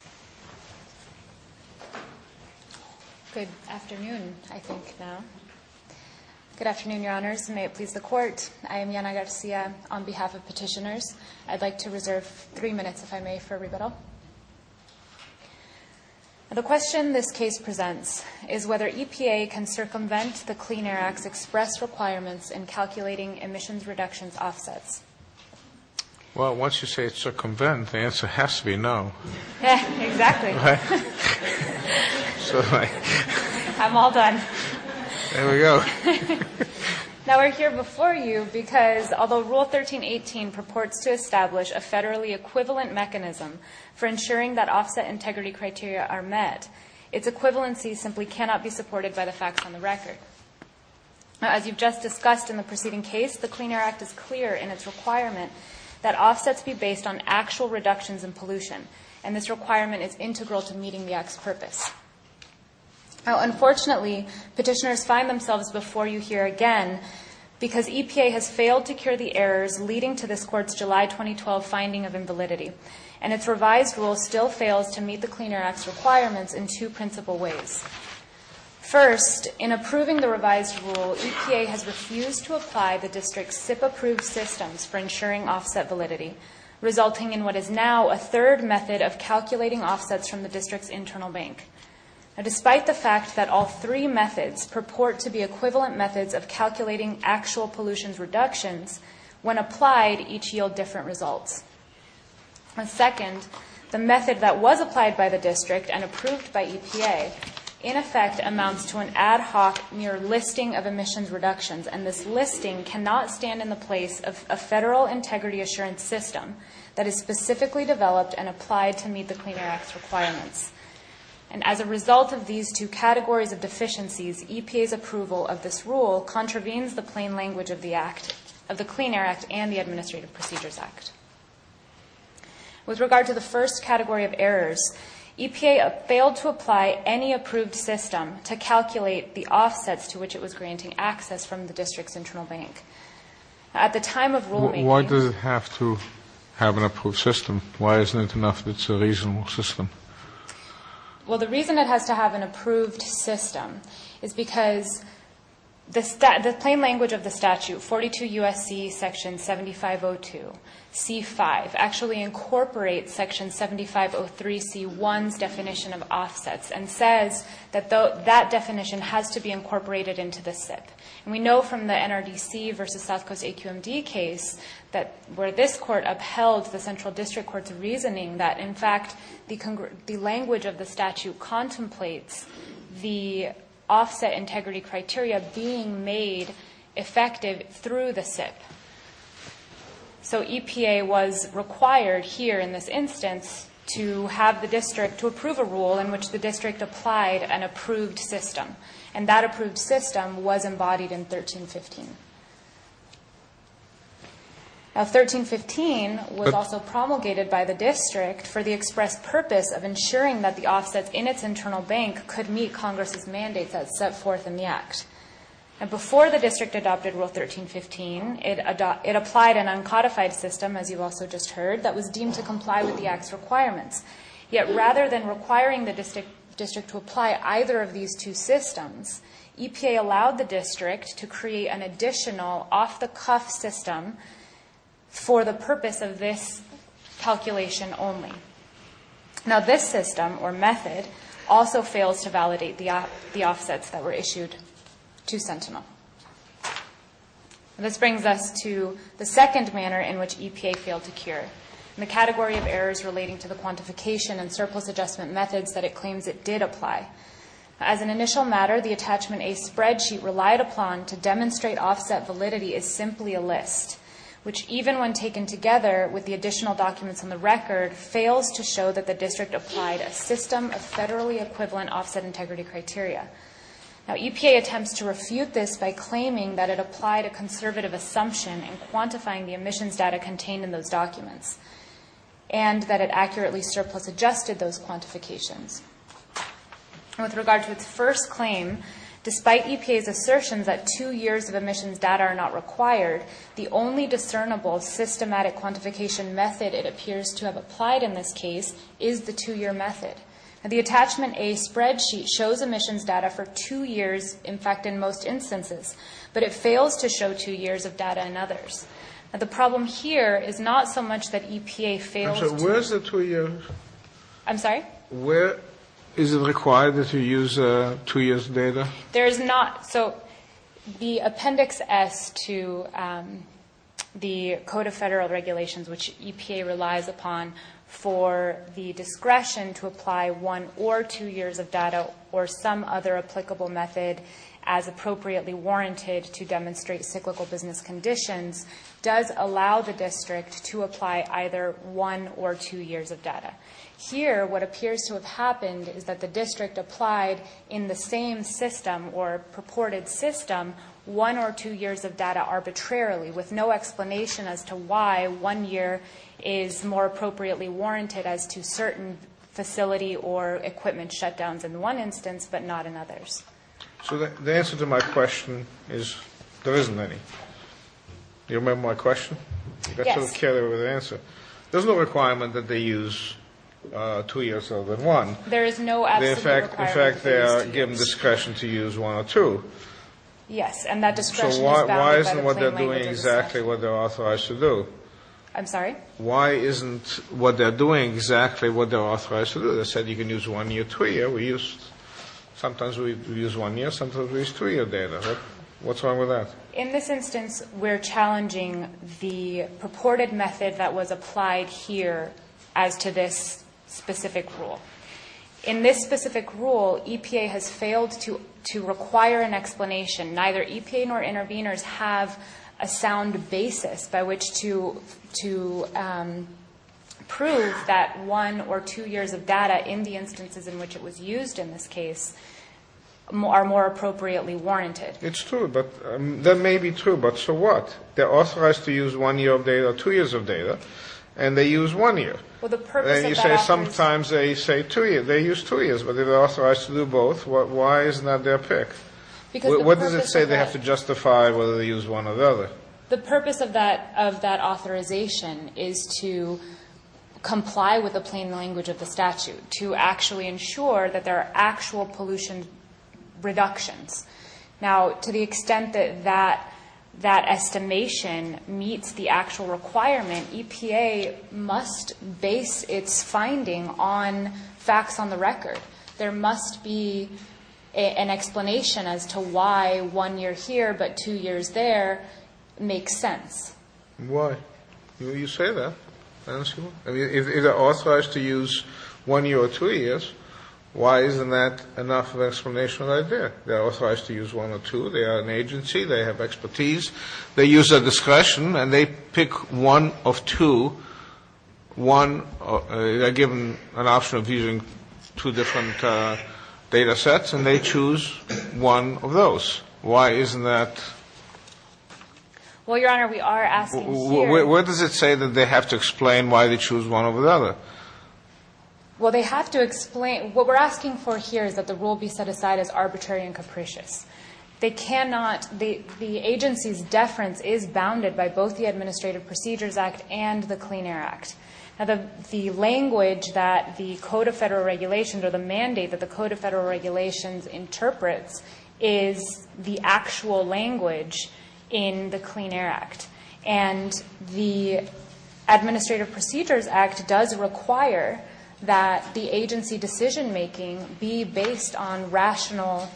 YANA GARCIA Good afternoon, Your Honors. May it please the Court, I am Yana Garcia on behalf of Petitioners. I'd like to reserve three minutes, if I may, for rebuttal. The question this case presents is whether EPA can circumvent the Clean Air Act's express requirements in calculating emissions reductions offsets. RULE 13.18 PROPORTS TO ESTABLISH A FEDERALLY EQUIVALENT MECHANISM FOR ENSURING THAT OFFSET INTEGRITY CRITERIA ARE MET. ITS EQUIVALENCY SIMPLY CANNOT BE SUPPORTED BY THE FACTS ON THE RECORD. As you've just discussed in the preceding case, the Clean Air Act is clear in its requirement that offsets be based on actual reductions in pollution, and this requirement is integral to meeting the Act's purpose. Unfortunately, Petitioners find themselves before you here again because EPA has failed to cure the errors leading to this Court's July 2012 finding of invalidity, and its revised rule still fails to meet the Clean Air Act's requirements in two principal ways. First, in approving the revised rule, EPA has refused to apply the District's SIP-approved systems for ensuring offset validity, resulting in what is now a third method of calculating offsets from the District's internal bank, despite the fact that all three methods purport to be equivalent methods of calculating actual pollution reductions when applied each yield different results. Second, the method that is approved by EPA in effect amounts to an ad hoc mere listing of emissions reductions, and this listing cannot stand in the place of a federal integrity assurance system that is specifically developed and applied to meet the Clean Air Act's requirements. And as a result of these two categories of deficiencies, EPA's approval of this rule contravenes the plain language of the Act, of the Clean Air Act and the Administrative Procedures Act. With regard to the first category of errors, EPA failed to apply any approved system to calculate the offsets to which it was granting access from the District's internal bank. At the time of rulemaking... Why does it have to have an approved system? Why isn't it enough that it's a reasonable system? Well, the reason it has to have an approved system is because the plain language of the C-5 actually incorporates Section 7503 C-1's definition of offsets and says that that definition has to be incorporated into the SIP. And we know from the NRDC versus South Coast AQMD case where this court upheld the Central District Court's reasoning that in fact the language of the statute contemplates the offset integrity criteria being made effective through the SIP. So EPA was required here in this instance to have the District to approve a rule in which the District applied an approved system. And that approved system was embodied in 1315. Now, 1315 was also promulgated by the District for the express purpose of ensuring that the offsets in its internal bank could meet Congress's mandates as set forth in the Act. And before the District adopted Rule 1315, it applied an uncodified system, as you've also just heard, that was deemed to comply with the Act's requirements. Yet rather than requiring the District to apply either of these two systems, EPA allowed the District to create an additional off-the-cuff system for the purpose of this calculation only. Now this system, or method, also fails to validate the offsets that were issued to Sentinel. This brings us to the second manner in which EPA failed to cure, in the category of errors relating to the quantification and surplus adjustment methods that it claims it did apply. As an initial matter, the Attachment A spreadsheet relied upon to demonstrate offset validity is simply a list, which even when taken together with the additional documents on the record, fails to show that the District applied a system of federally equivalent offset integrity criteria. Now EPA attempts to refute this by claiming that it applied a conservative assumption in quantifying the emissions data contained in those documents and that it accurately surplus adjusted those quantifications. With regard to its first claim, despite EPA's assertions that two years of emissions data are not required, the only discernible systematic quantification method it appears to have applied in this case is the two-year method. Now the Attachment A spreadsheet shows emissions data for two years, in fact in most instances, but it fails to show two years of data in others. Now the problem here is not so much that EPA failed to... Where's the two years? I'm sorry? Where is it required that you use two years' data? There is not... So the Appendix S to the Code of Federal Regulations, which EPA relies upon for the discretion to apply one or two years of data or some other applicable method as appropriately warranted to demonstrate cyclical business conditions, does allow the District to apply either one or two years of data. Here, what appears to have happened is that the District applied in the same system or purported system one or two years of data arbitrarily with no explanation as to why one year is more appropriately warranted as to certain facility or equipment shutdowns in one instance but not in others. So the answer to my question is there isn't any. Do you remember my question? Yes. That's sort of the carryover to the answer. There's no requirement that they use two years other than one. There is no absolute requirement that they use two years. In fact, they are given discretion to use one or two. Yes, and that discretion is... So why isn't what they're doing exactly what they're authorized to do? I'm sorry? Why isn't what they're doing exactly what they're authorized to do? They said you can use one year, two year. Sometimes we use one year, sometimes we use two year data. What's wrong with that? In this instance, we're challenging the purported method that was applied here as to this specific rule. In this specific rule, EPA has failed to require an explanation. Neither EPA nor intervenors have a sound basis by which to prove that one or two years of data in the instances in which it was used in this case are more appropriately warranted. It's true, but that may be true, but so what? They're authorized to use one year of data or two years of data, and they use one year. Well, the purpose of that... Well, you say sometimes they say two years. They use two years, but they're authorized to do both. Why isn't that their pick? Because the purpose of that... What does it say they have to justify whether they use one or the other? The purpose of that authorization is to comply with the plain language of the statute, to actually ensure that there are actual pollution reductions. Now, to the extent that that is a finding on facts on the record, there must be an explanation as to why one year here but two years there makes sense. Why? You say that. I mean, if they're authorized to use one year or two years, why isn't that enough of an explanation right there? They're authorized to use one or two. They are an agency. They have expertise. They use their discretion, and they pick one of two. One or... They're given an option of using two different data sets, and they choose one of those. Why isn't that... Well, Your Honor, we are asking here... Where does it say that they have to explain why they choose one over the other? Well, they have to explain... What we're asking for here is that the rule be set aside as arbitrary and capricious. They cannot... The agency's deference is bounded by both the language that the Code of Federal Regulations or the mandate that the Code of Federal Regulations interprets is the actual language in the Clean Air Act. And the Administrative Procedures Act does require that the agency decision-making be based on rational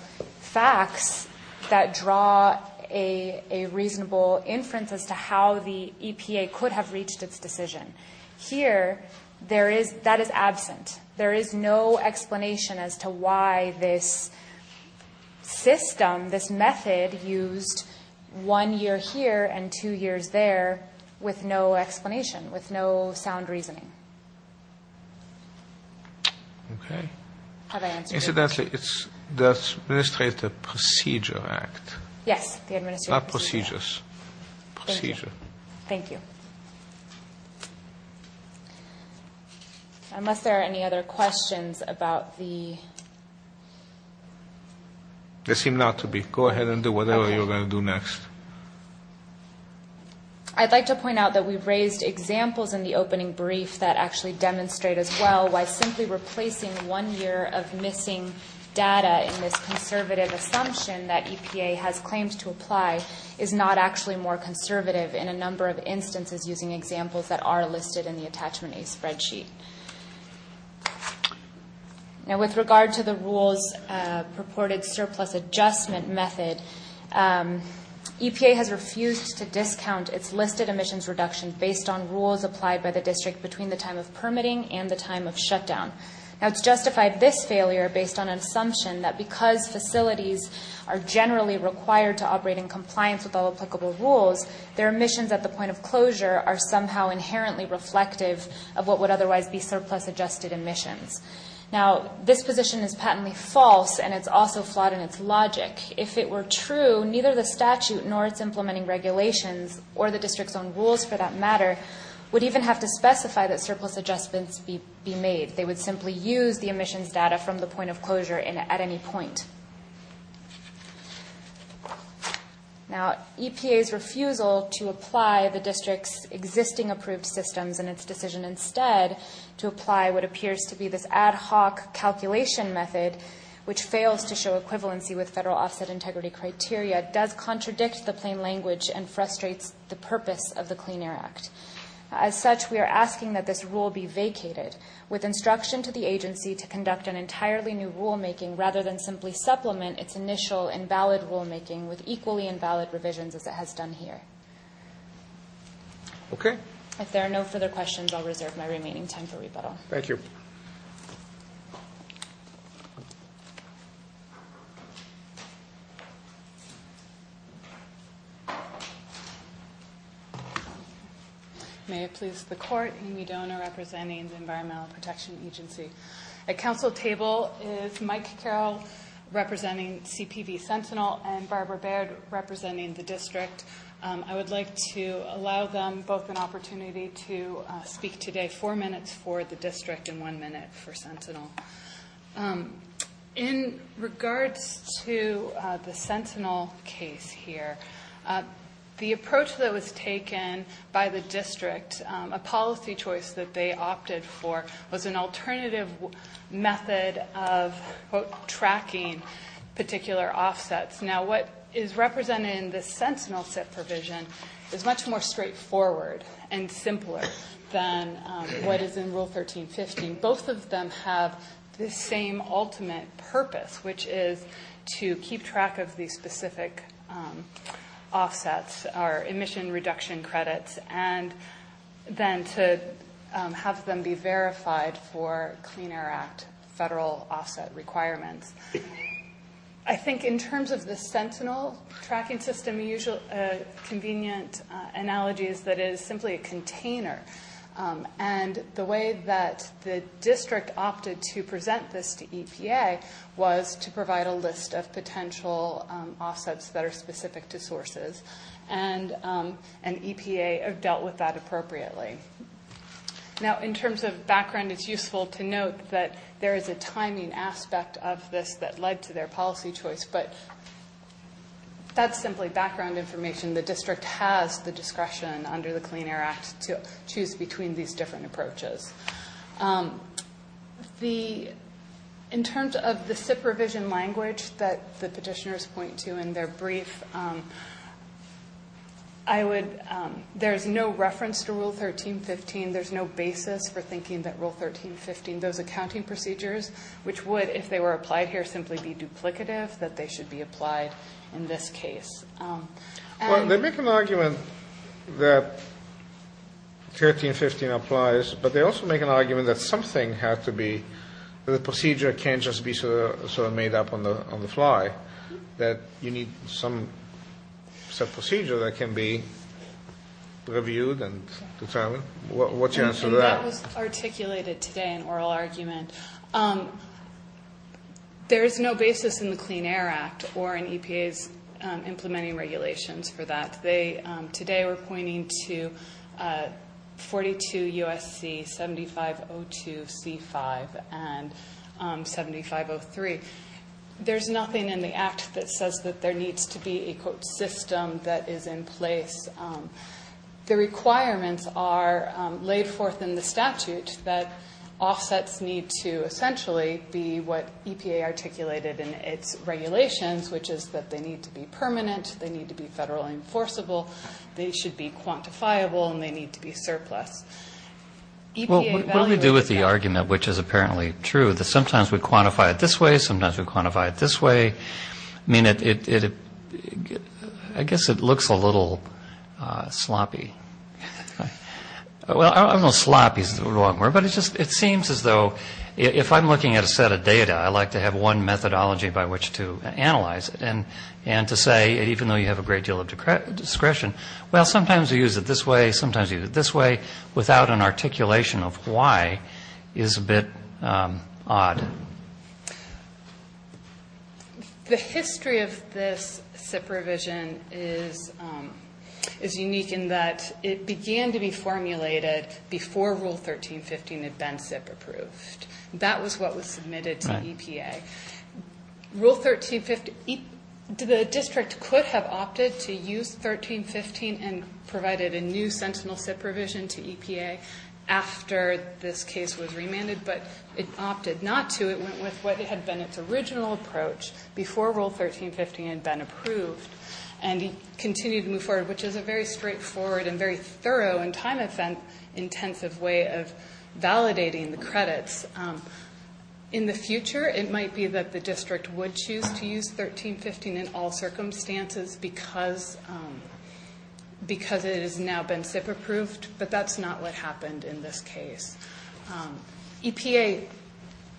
facts that draw a reasonable inference as to how the EPA could have reached its decision. Here, there is... That is absent. There is no explanation as to why this system, this method, used one year here and two years there with no explanation, with no sound reasoning. Okay. Have I answered your question? Incidentally, it's the Administrative Procedure Act. Yes, the Administrative Procedure Act. Not procedures. Procedure. Thank you. Unless there are any other questions about the... There seem not to be. Go ahead and do whatever you're going to do next. I'd like to point out that we've raised examples in the opening brief that actually demonstrate as well why simply replacing one year of missing data in this conservative assumption that is not actually more conservative in a number of instances using examples that are listed in the Attachment A spreadsheet. Now, with regard to the rules purported surplus adjustment method, EPA has refused to discount its listed emissions reduction based on rules applied by the district between the time of permitting and the time of shutdown. Now, it's justified this failure based on an assumption that because facilities are generally required to operate in compliance with all applicable rules, their emissions at the point of closure are somehow inherently reflective of what would otherwise be surplus adjusted emissions. Now, this position is patently false and it's also flawed in its logic. If it were true, neither the statute nor its implementing regulations, or the district's own rules for that matter, would even have to specify that surplus adjustments be made. They would simply use the emissions data from the point of closure at any point. Now, EPA's refusal to apply the district's existing approved systems and its decision instead to apply what appears to be this ad hoc calculation method, which fails to show equivalency with federal offset integrity criteria, does contradict the plain language and frustrates the purpose of the Clean Air Act. As such, we are asking that this rule be vacated with instruction to the agency to conduct an entirely new rulemaking rather than simply supplement its initial invalid rulemaking with equally invalid revisions as it has done here. If there are no further questions, I'll reserve my remaining time for rebuttal. Thank you. May it please the Court, Amy Dona representing the Environmental Protection Agency. At Council table is Mike Carroll representing CPV Sentinel and Barbara Baird representing the district. I would like to allow them both an opportunity to speak today, four minutes for the district and one minute for Sentinel. In regards to the Sentinel case here, the approach that was taken by the district, a policy choice that they opted for was an alternative method of tracking particular offsets. Now, what is represented in the Sentinel SIP provision is much more straightforward and simpler than what is in Rule 13.15. Both of them have the same ultimate purpose, which is to keep track of the specific offsets or emission reduction credits and then to have them be verified for Clean Air Act federal offset requirements. I think in terms of the Sentinel tracking system, a convenient analogy is that it is the district opted to present this to EPA was to provide a list of potential offsets that are specific to sources and EPA have dealt with that appropriately. Now, in terms of background, it's useful to note that there is a timing aspect of this that led to their policy choice, but that's simply background information. The district has the discretion under the Clean Air Act to choose between these different approaches. In terms of the SIP revision language that the Petitioners point to in their brief, there is no reference to Rule 13.15. There is no basis for thinking that Rule 13.15, those accounting procedures, which would, if they were applied here, simply be duplicative, that they should be applied in this case. They make an argument that 13.15 applies, but they also make an argument that something has to be, that the procedure can't just be sort of made up on the fly, that you need some procedure that can be reviewed and determined. What's your answer to that? And that was articulated today in oral argument. There is no basis in the Clean Air Act or in EPA's implementing regulations for that. Today we're pointing to 42 U.S.C. 7502 C.5 and 7503. There's nothing in the Act that says that there needs to be a, quote, system that is in place. The requirements are laid forth in the statute that offsets need to essentially be what EPA articulated in its regulations, which is that they need to be permanent, they need to be federal enforceable, they should be quantifiable, and they need to be surplus. EPA values that. Well, what do we do with the argument, which is apparently true, that sometimes we quantify it this way, sometimes we quantify it this way? I mean, it, I guess it looks a little sloppy. Well, I don't know if sloppy is the wrong word, but it just, it seems as though, if I'm looking at a set of data, I like to have one methodology by which to analyze it and to say, even though you have a great deal of discretion, well, sometimes you use it this way, sometimes you use it this way, without an articulation of why is a bit odd. The history of this SIP revision is unique in that it began to be formulated before Rule 1315 had been SIP approved. That was what was submitted to EPA. Rule 1315, the district could have opted to use 1315 and provided a new Sentinel SIP revision to EPA after this case was remanded, but it opted not to. It went with what had been its original approach before Rule 1315 had been approved, and it continued to move forward, which is a very straightforward and very thorough and time-intensive way of validating the credits. In the future, it might be that the district would choose to use 1315 in all circumstances because it has now been SIP approved, but that's not what happened in this case. EPA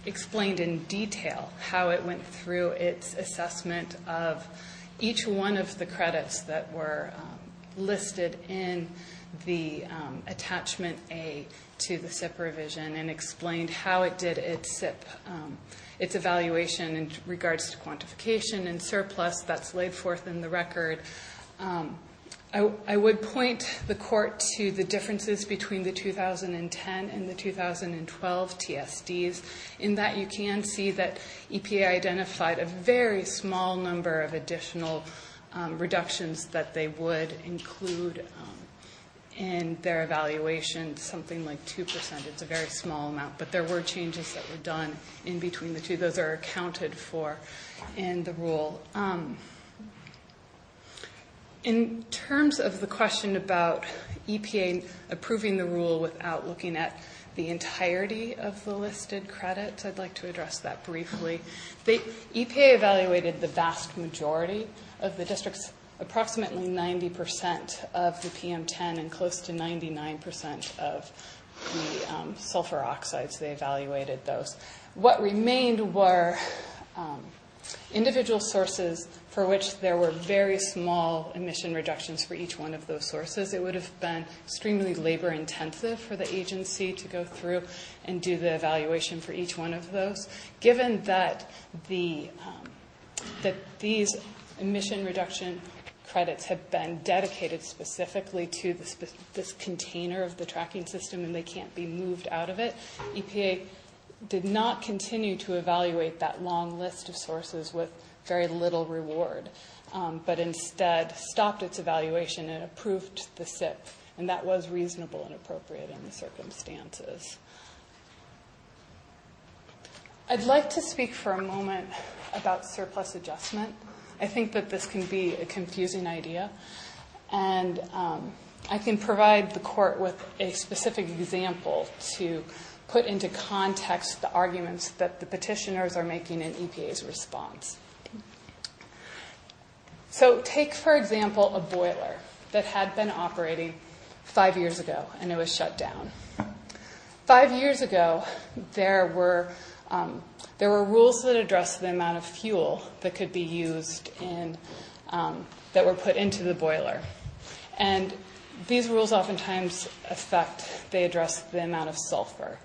explained in detail how it went through its assessment of each one of the credits that were listed in the attachment A to the SIP revision and explained how it did its evaluation in regards to quantification and surplus that's laid forth in the record. I would point the court to the differences between the 2010 and the 2012 TSDs, in that you can see that EPA identified a very small number of additional reductions to the SIP revisions that they would include in their evaluation, something like 2%. It's a very small amount, but there were changes that were done in between the two. Those are accounted for in the rule. In terms of the question about EPA approving the rule without looking at the entirety of the listed credits, I'd like to address that briefly. EPA evaluated the vast majority of the districts, approximately 90% of the PM10 and close to 99% of the sulfur oxides. They evaluated those. What remained were individual sources for which there were very small emission reductions for each one of those sources. It would have been extremely labor intensive for the agency to go through and do the evaluation for each one of those. Given that these emission reduction credits have been dedicated specifically to this container of the tracking system and they can't be moved out of it, EPA did not continue to evaluate that long list of sources with very little reward, but instead stopped its evaluation and approved the SIP, and that was reasonable and appropriate in the circumstances. I'd like to speak for a moment about surplus adjustment. I think that this can be a confusing idea. I can provide the court with a specific example to put into context the arguments that the petitioners are making in EPA's response. Take, for example, a boiler that had been operating five years ago and it was shut down. Five years ago, there were rules that addressed the amount of fuel that could be used that were put into the boiler. These rules oftentimes affect, they address the amount of sulfur.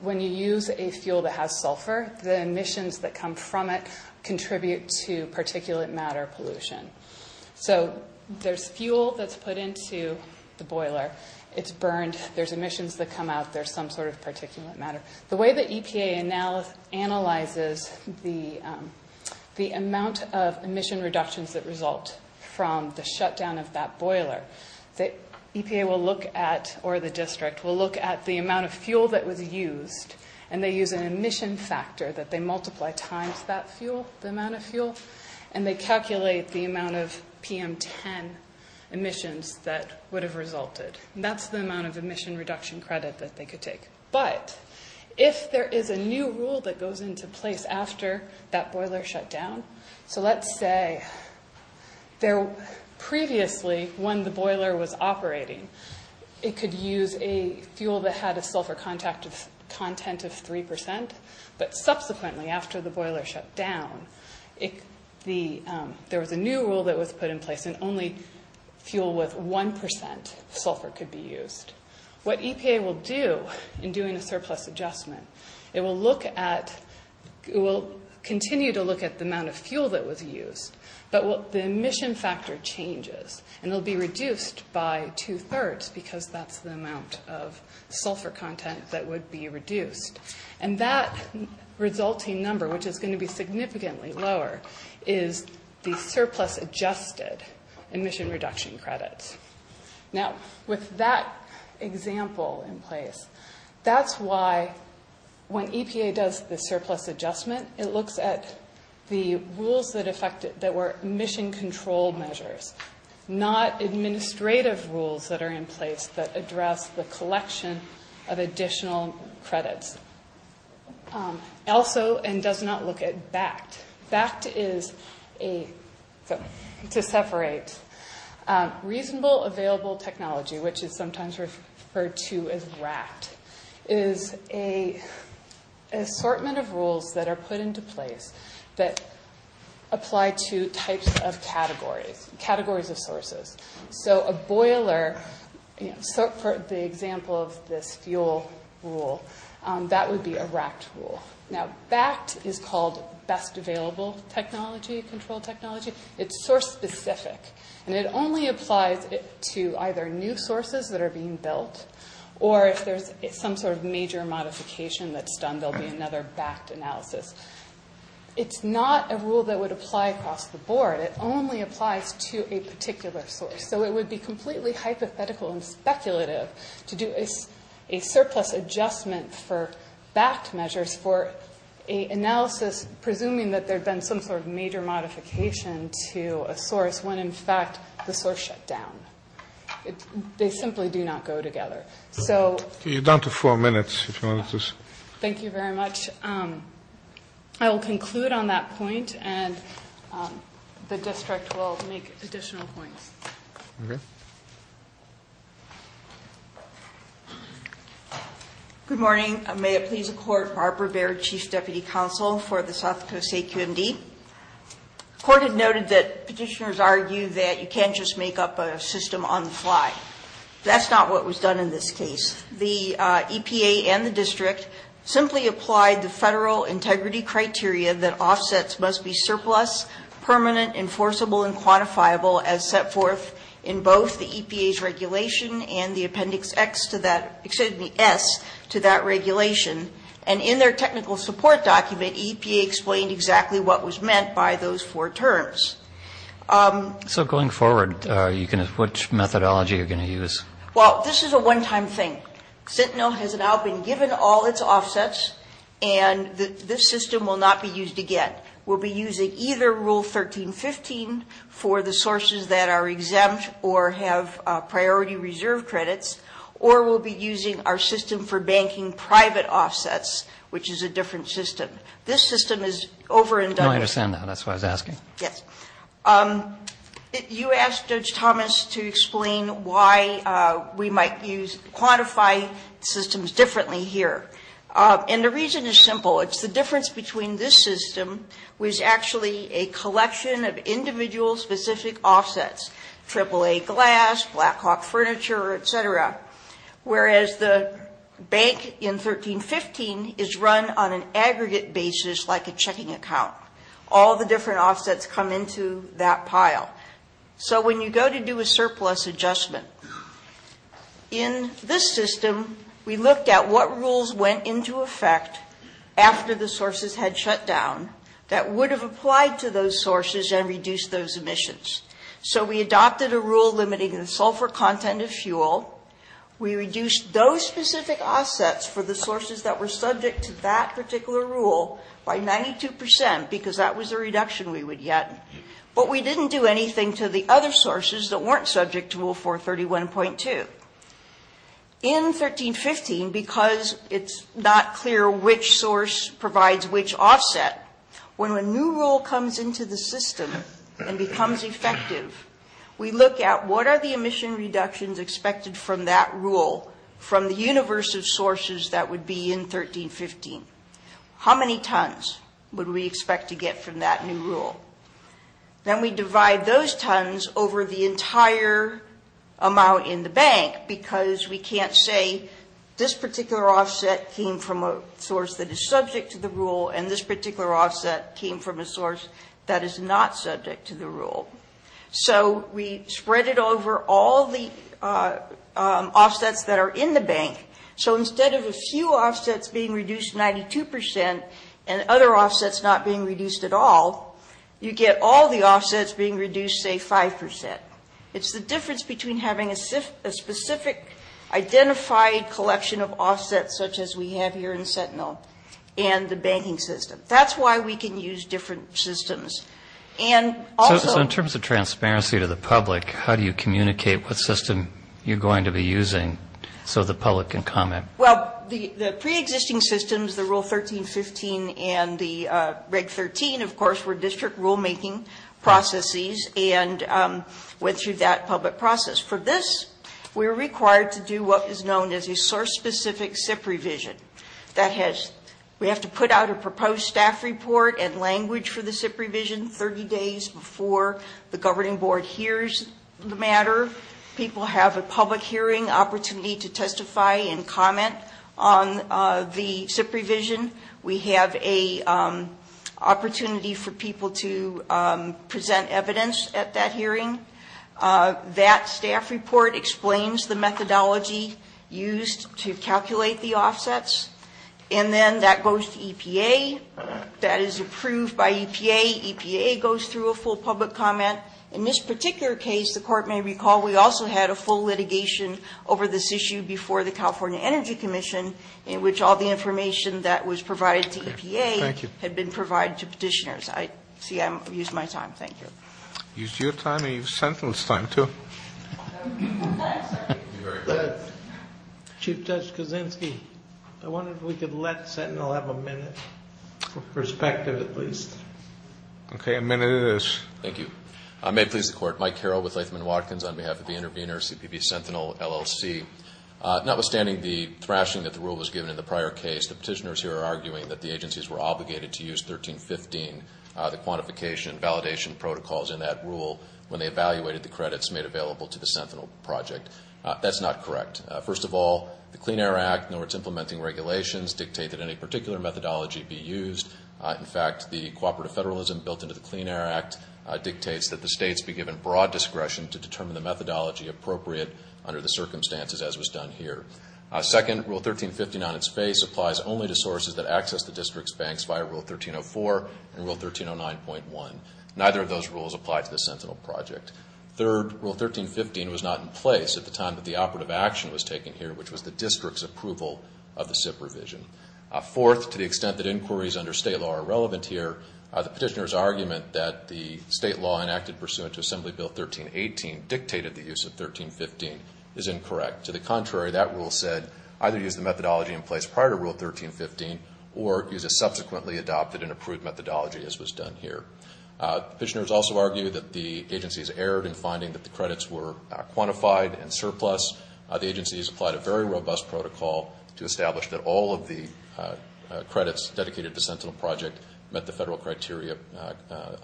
When you use a fuel that has sulfur, the emissions that come from it contribute to particulate matter pollution. So there's fuel that's put into the boiler. It's burned. There's emissions that come out. There's some sort of particulate matter. The way that EPA analyzes the amount of emission reductions that result from the shutdown of that boiler, EPA will look at, or the district, will look at the amount of PM10 emissions that would have resulted. That's the amount of emission reduction credit that they could take. But if there is a new rule that goes into place after that boiler shut down, so let's say, previously, when the boiler was operating, it could use a fuel that had a sulfur content of 3%, but subsequently, after the boiler shut down, there was a new rule that was put in place and only fuel with 1% sulfur could be used. What EPA will do in doing a surplus adjustment, it will look at, it will continue to look at the amount of fuel that was used, but the emission factor changes and it will be reduced by two-thirds because that's the amount of sulfur content that would be reduced. And that resulting number, which is going to be significantly lower, is the surplus adjusted emission reduction credits. Now, with that example in place, that's why when EPA does the surplus adjustment, it looks at the rules that were emission control measures, not administrative rules that are in place that address the collection of additional credits. Also, and does not look at BACT. BACT is a, to separate, reasonable available technology, which is sometimes referred to as RACT, is an assortment of rules that are put into place that apply to types of categories, categories of sources. So a boiler, for the example of this fuel rule, that would be a RACT rule. Now, BACT is called best available technology, controlled technology. It's source-specific, and it only applies to either new sources that are being built, or if there's some sort of major modification that's done, there'll be another BACT analysis. It's not a rule that would apply across the board. It only applies to a particular source. So it would be completely hypothetical and speculative to do a surplus adjustment for BACT measures for an analysis presuming that there'd been some sort of major modification to a source, when in fact the source shut down. They simply do not go together. So... Thank you very much. I will conclude on that point, and the district will make additional points. Okay. Good morning. May it please the court, Barbara Baird, Chief Deputy Counsel for the South Coast AQMD. The court has noted that petitioners argue that you can't just make up a system on the fly. That's not what was done in this case. The EPA and the district simply applied the federal integrity criteria that offsets must-be-surplus, permanent, enforceable, and quantifiable as set forth in both the EPA's regulation and the Appendix S to that regulation. And in their technical support document, EPA explained exactly what was meant by those four terms. So going forward, which methodology are you going to use? Well, this is a one-time thing. Sentinel has now been given all its offsets, and this system will not be used again. We'll be using either Rule 1315 for the sources that are exempt or have priority reserve credits, or we'll be using our system for banking private offsets, which is a different system. This system is over and done with. No, I understand that. That's why I was asking. Yes. You asked Judge Thomas to explain why we might use quantified systems differently here. And the reason is simple. It's the difference between this system, which is actually a collection of individual-specific offsets, AAA glass, Blackhawk furniture, et cetera, whereas the bank in 1315 is run on an aggregate basis like a checking account. All the different offsets come into that pile. So when you go to do a surplus adjustment in this system, we looked at what rules went into effect after the sources had shut down that would have applied to those sources and reduced those emissions. We reduced those specific assets for the sources that were subject to that particular rule by 92 percent because that was a reduction we would get, but we didn't do anything to the other sources that weren't subject to Rule 431.2. In 1315, because it's not clear which source provides which offset, when a new rule comes into the system and becomes effective, we look at what are the emission reductions expected from that rule from the universe of sources that would be in 1315. How many tons would we expect to get from that new rule? Then we divide those tons over the entire amount in the bank because we can't say this particular offset came from a source that is subject to the rule and this particular offset came from a source that is not subject to the rule. So we spread it over all the offsets that are in the bank. So instead of a few offsets being reduced 92 percent and other offsets not being reduced at all, you get all the offsets being reduced, say, 5 percent. It's the difference between having a specific identified collection of offsets such as we have here in Sentinel and the banking system. That's why we can use different systems. And also... So in terms of transparency to the public, how do you communicate what system you're going to be using so the public can comment? Well, the preexisting systems, the Rule 1315 and the Reg 13, of course, were district rulemaking processes because we have to put out a proposed staff report and language for the SIP revision 30 days before the governing board hears the matter. People have a public hearing opportunity to testify and comment on the SIP revision. We have an opportunity for people to present evidence at that hearing. That staff report explains the methodology used to calculate the offsets. And then that goes to EPA. That is approved by EPA. EPA goes through a full public comment. In this particular case, the court may recall, we also had a full litigation over this issue before the California Energy Commission in which all the information that was provided to EPA had been provided to petitioners. I see I've used my time. Thank you. Use your time and use Sentinel's time, too. Chief Judge Kuczynski, I wonder if we could let Sentinel have a minute. A perspective, at least. Okay, a minute it is. Thank you. May it please the Court. Mike Carroll with Latham & Watkins on behalf of the intervener, CPP Sentinel, LLC. Notwithstanding the thrashing that the rule was given in the prior case, the petitioners here are arguing that the agencies were obligated to use 1315, the quantification validation protocols in that rule, when they evaluated the credits made available to the Sentinel project. That's not correct. First of all, the Clean Air Act, nor its implementing regulations, dictate that any particular methodology be used. In fact, the cooperative federalism built into the Clean Air Act dictates that the States be given broad discretion to determine the methodology appropriate under the circumstances as was done here. Second, Rule 1315 on its face applies only to sources that access the District's banks via Rule 1304 and Rule 1309.1. Neither of those rules apply to the Sentinel project. Third, Rule 1315 was not in place at the time that the operative action was taken here, which was the District's approval of the SIP revision. Fourth, to the extent that inquiries under State law are relevant here, the petitioners argument that the State law enacted pursuant to Assembly Bill 1318 dictated the use of 1315 is incorrect. To the contrary, that rule said either use the methodology in place prior to Rule 1315 or use a subsequently adopted and approved methodology as was done here. Petitioners also argue that the agencies erred in finding that the credits were quantified and surplus. The agencies applied a very robust protocol to establish that all of the credits dedicated to the Sentinel project met the federal criteria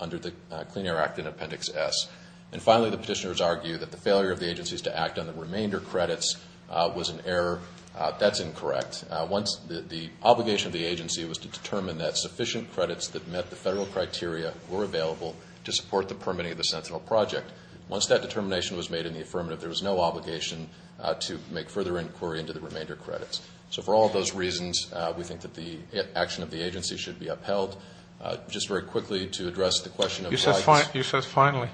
under the Clean Air Act in Appendix S. And finally, the petitioners argue that the failure of the agencies to act on the remainder credits was an error. That's incorrect. The obligation of the agency was to determine that sufficient credits that met the federal criteria were available to support the permitting of the Sentinel project. Once that determination was made in the affirmative, there was no obligation to make further inquiry into the remainder credits. So for all of those reasons, we think that the action of the agency should be upheld. Just very quickly to address the question of why this... You said finally.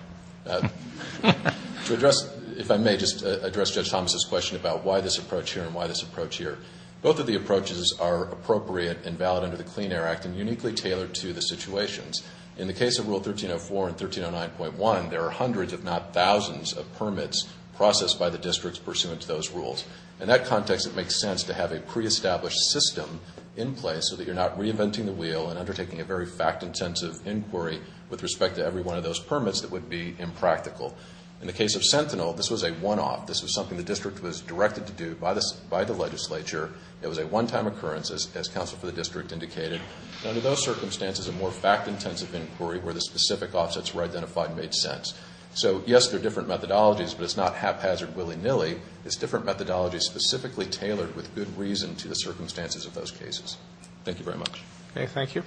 To address, if I may, just address Judge Thomas' question about why this approach here and why this approach here. Both of the approaches are appropriate and valid under the Clean Air Act and uniquely tailored to the situations. In the case of Rule 1304 and 1309.1, there are hundreds, if not thousands, of permits processed by the districts pursuant to those rules. In that context, it makes sense to have a pre-established system in place so that you're not reinventing the wheel and undertaking a very fact-intensive inquiry with respect to every one of those permits that would be impractical. In the case of Sentinel, this was a one-off. This was something the district was directed to do by the legislature. It was a one-time occurrence, as counsel for the district indicated. Under those circumstances, a more fact-intensive inquiry where the specific offsets were identified made sense. So yes, they're different methodologies, but it's not haphazard willy-nilly. It's different methodologies specifically tailored with good reason to the circumstances of those cases. Thank you very much. Okay, thank you.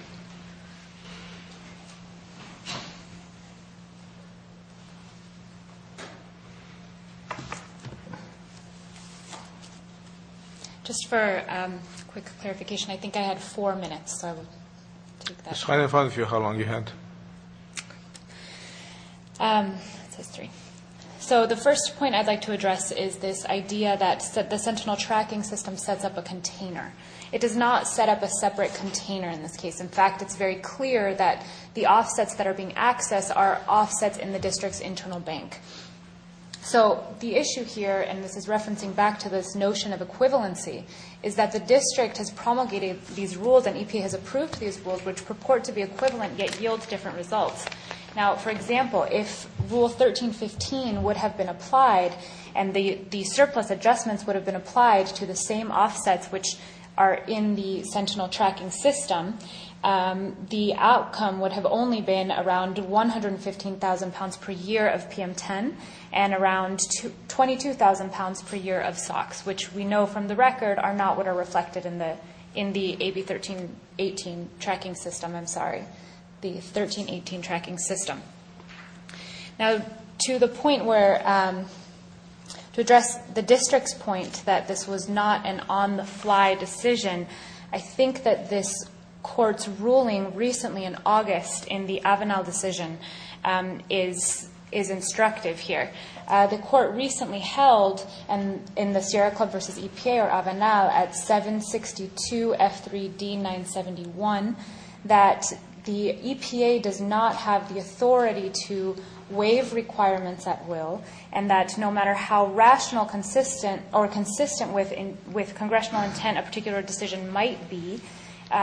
Just for a quick clarification, I think I had four minutes, so I will take that. Just to clarify for you how long you had. So the first point I'd like to address is this idea that the Sentinel tracking system sets up a container. It does not set up a separate container in this case. In fact, it's very clear that the offsets that are being accessed are offsets in the district's internal bank. So the issue here, and this is referencing back to this notion of equivalency, is that the district has promulgated these rules and EPA has approved these rules, which purport to be equivalent yet yield different results. Now, for example, if Rule 1315 would have been applied and the surplus adjustments would have been applied to the same offsets which are in the Sentinel tracking system, the outcome would have only been around 115,000 pounds per year of PM10 and around 22,000 pounds per year of SOX, which we know from the record are not what are reflected in the AB 1318 tracking system. I'm sorry, the 1318 tracking system. To address the district's point that this was not an on-the-fly decision, I think that this court's ruling recently in August in the Avenal decision is instructive here. The court recently held in the Sierra Club versus EPA or Avenal at 762 F3D 971 that the EPA does not have the authority to waive requirements at will and that no matter how rational, consistent or consistent with congressional intent a particular decision might be,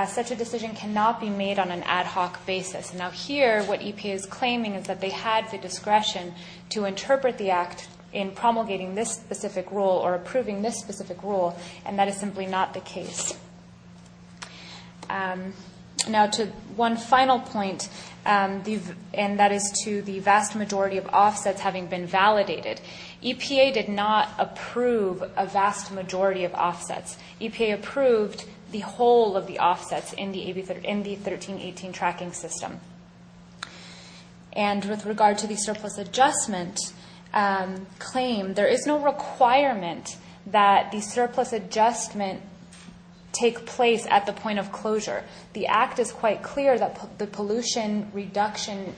such a decision cannot be made on an ad hoc basis. Now here what EPA is claiming is that they had the discretion to interpret the act in promulgating this specific rule or approving this specific rule, and that is simply not the case. Now to one final point, and that is to the vast majority of offsets having been validated. EPA did not approve a vast majority of offsets. EPA approved the whole of the offsets in the 1318 tracking system. And with regard to the surplus adjustment claim, there is no requirement that the surplus adjustment take place at the point of closure. The act is quite clear that the pollution reduction,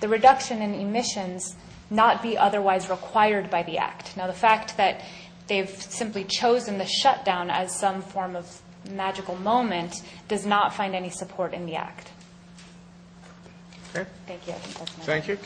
the reduction in emissions not be otherwise required by the act. Now the fact that they've simply chosen the shutdown as some form of magical moment does not find any support in the act. Thank you.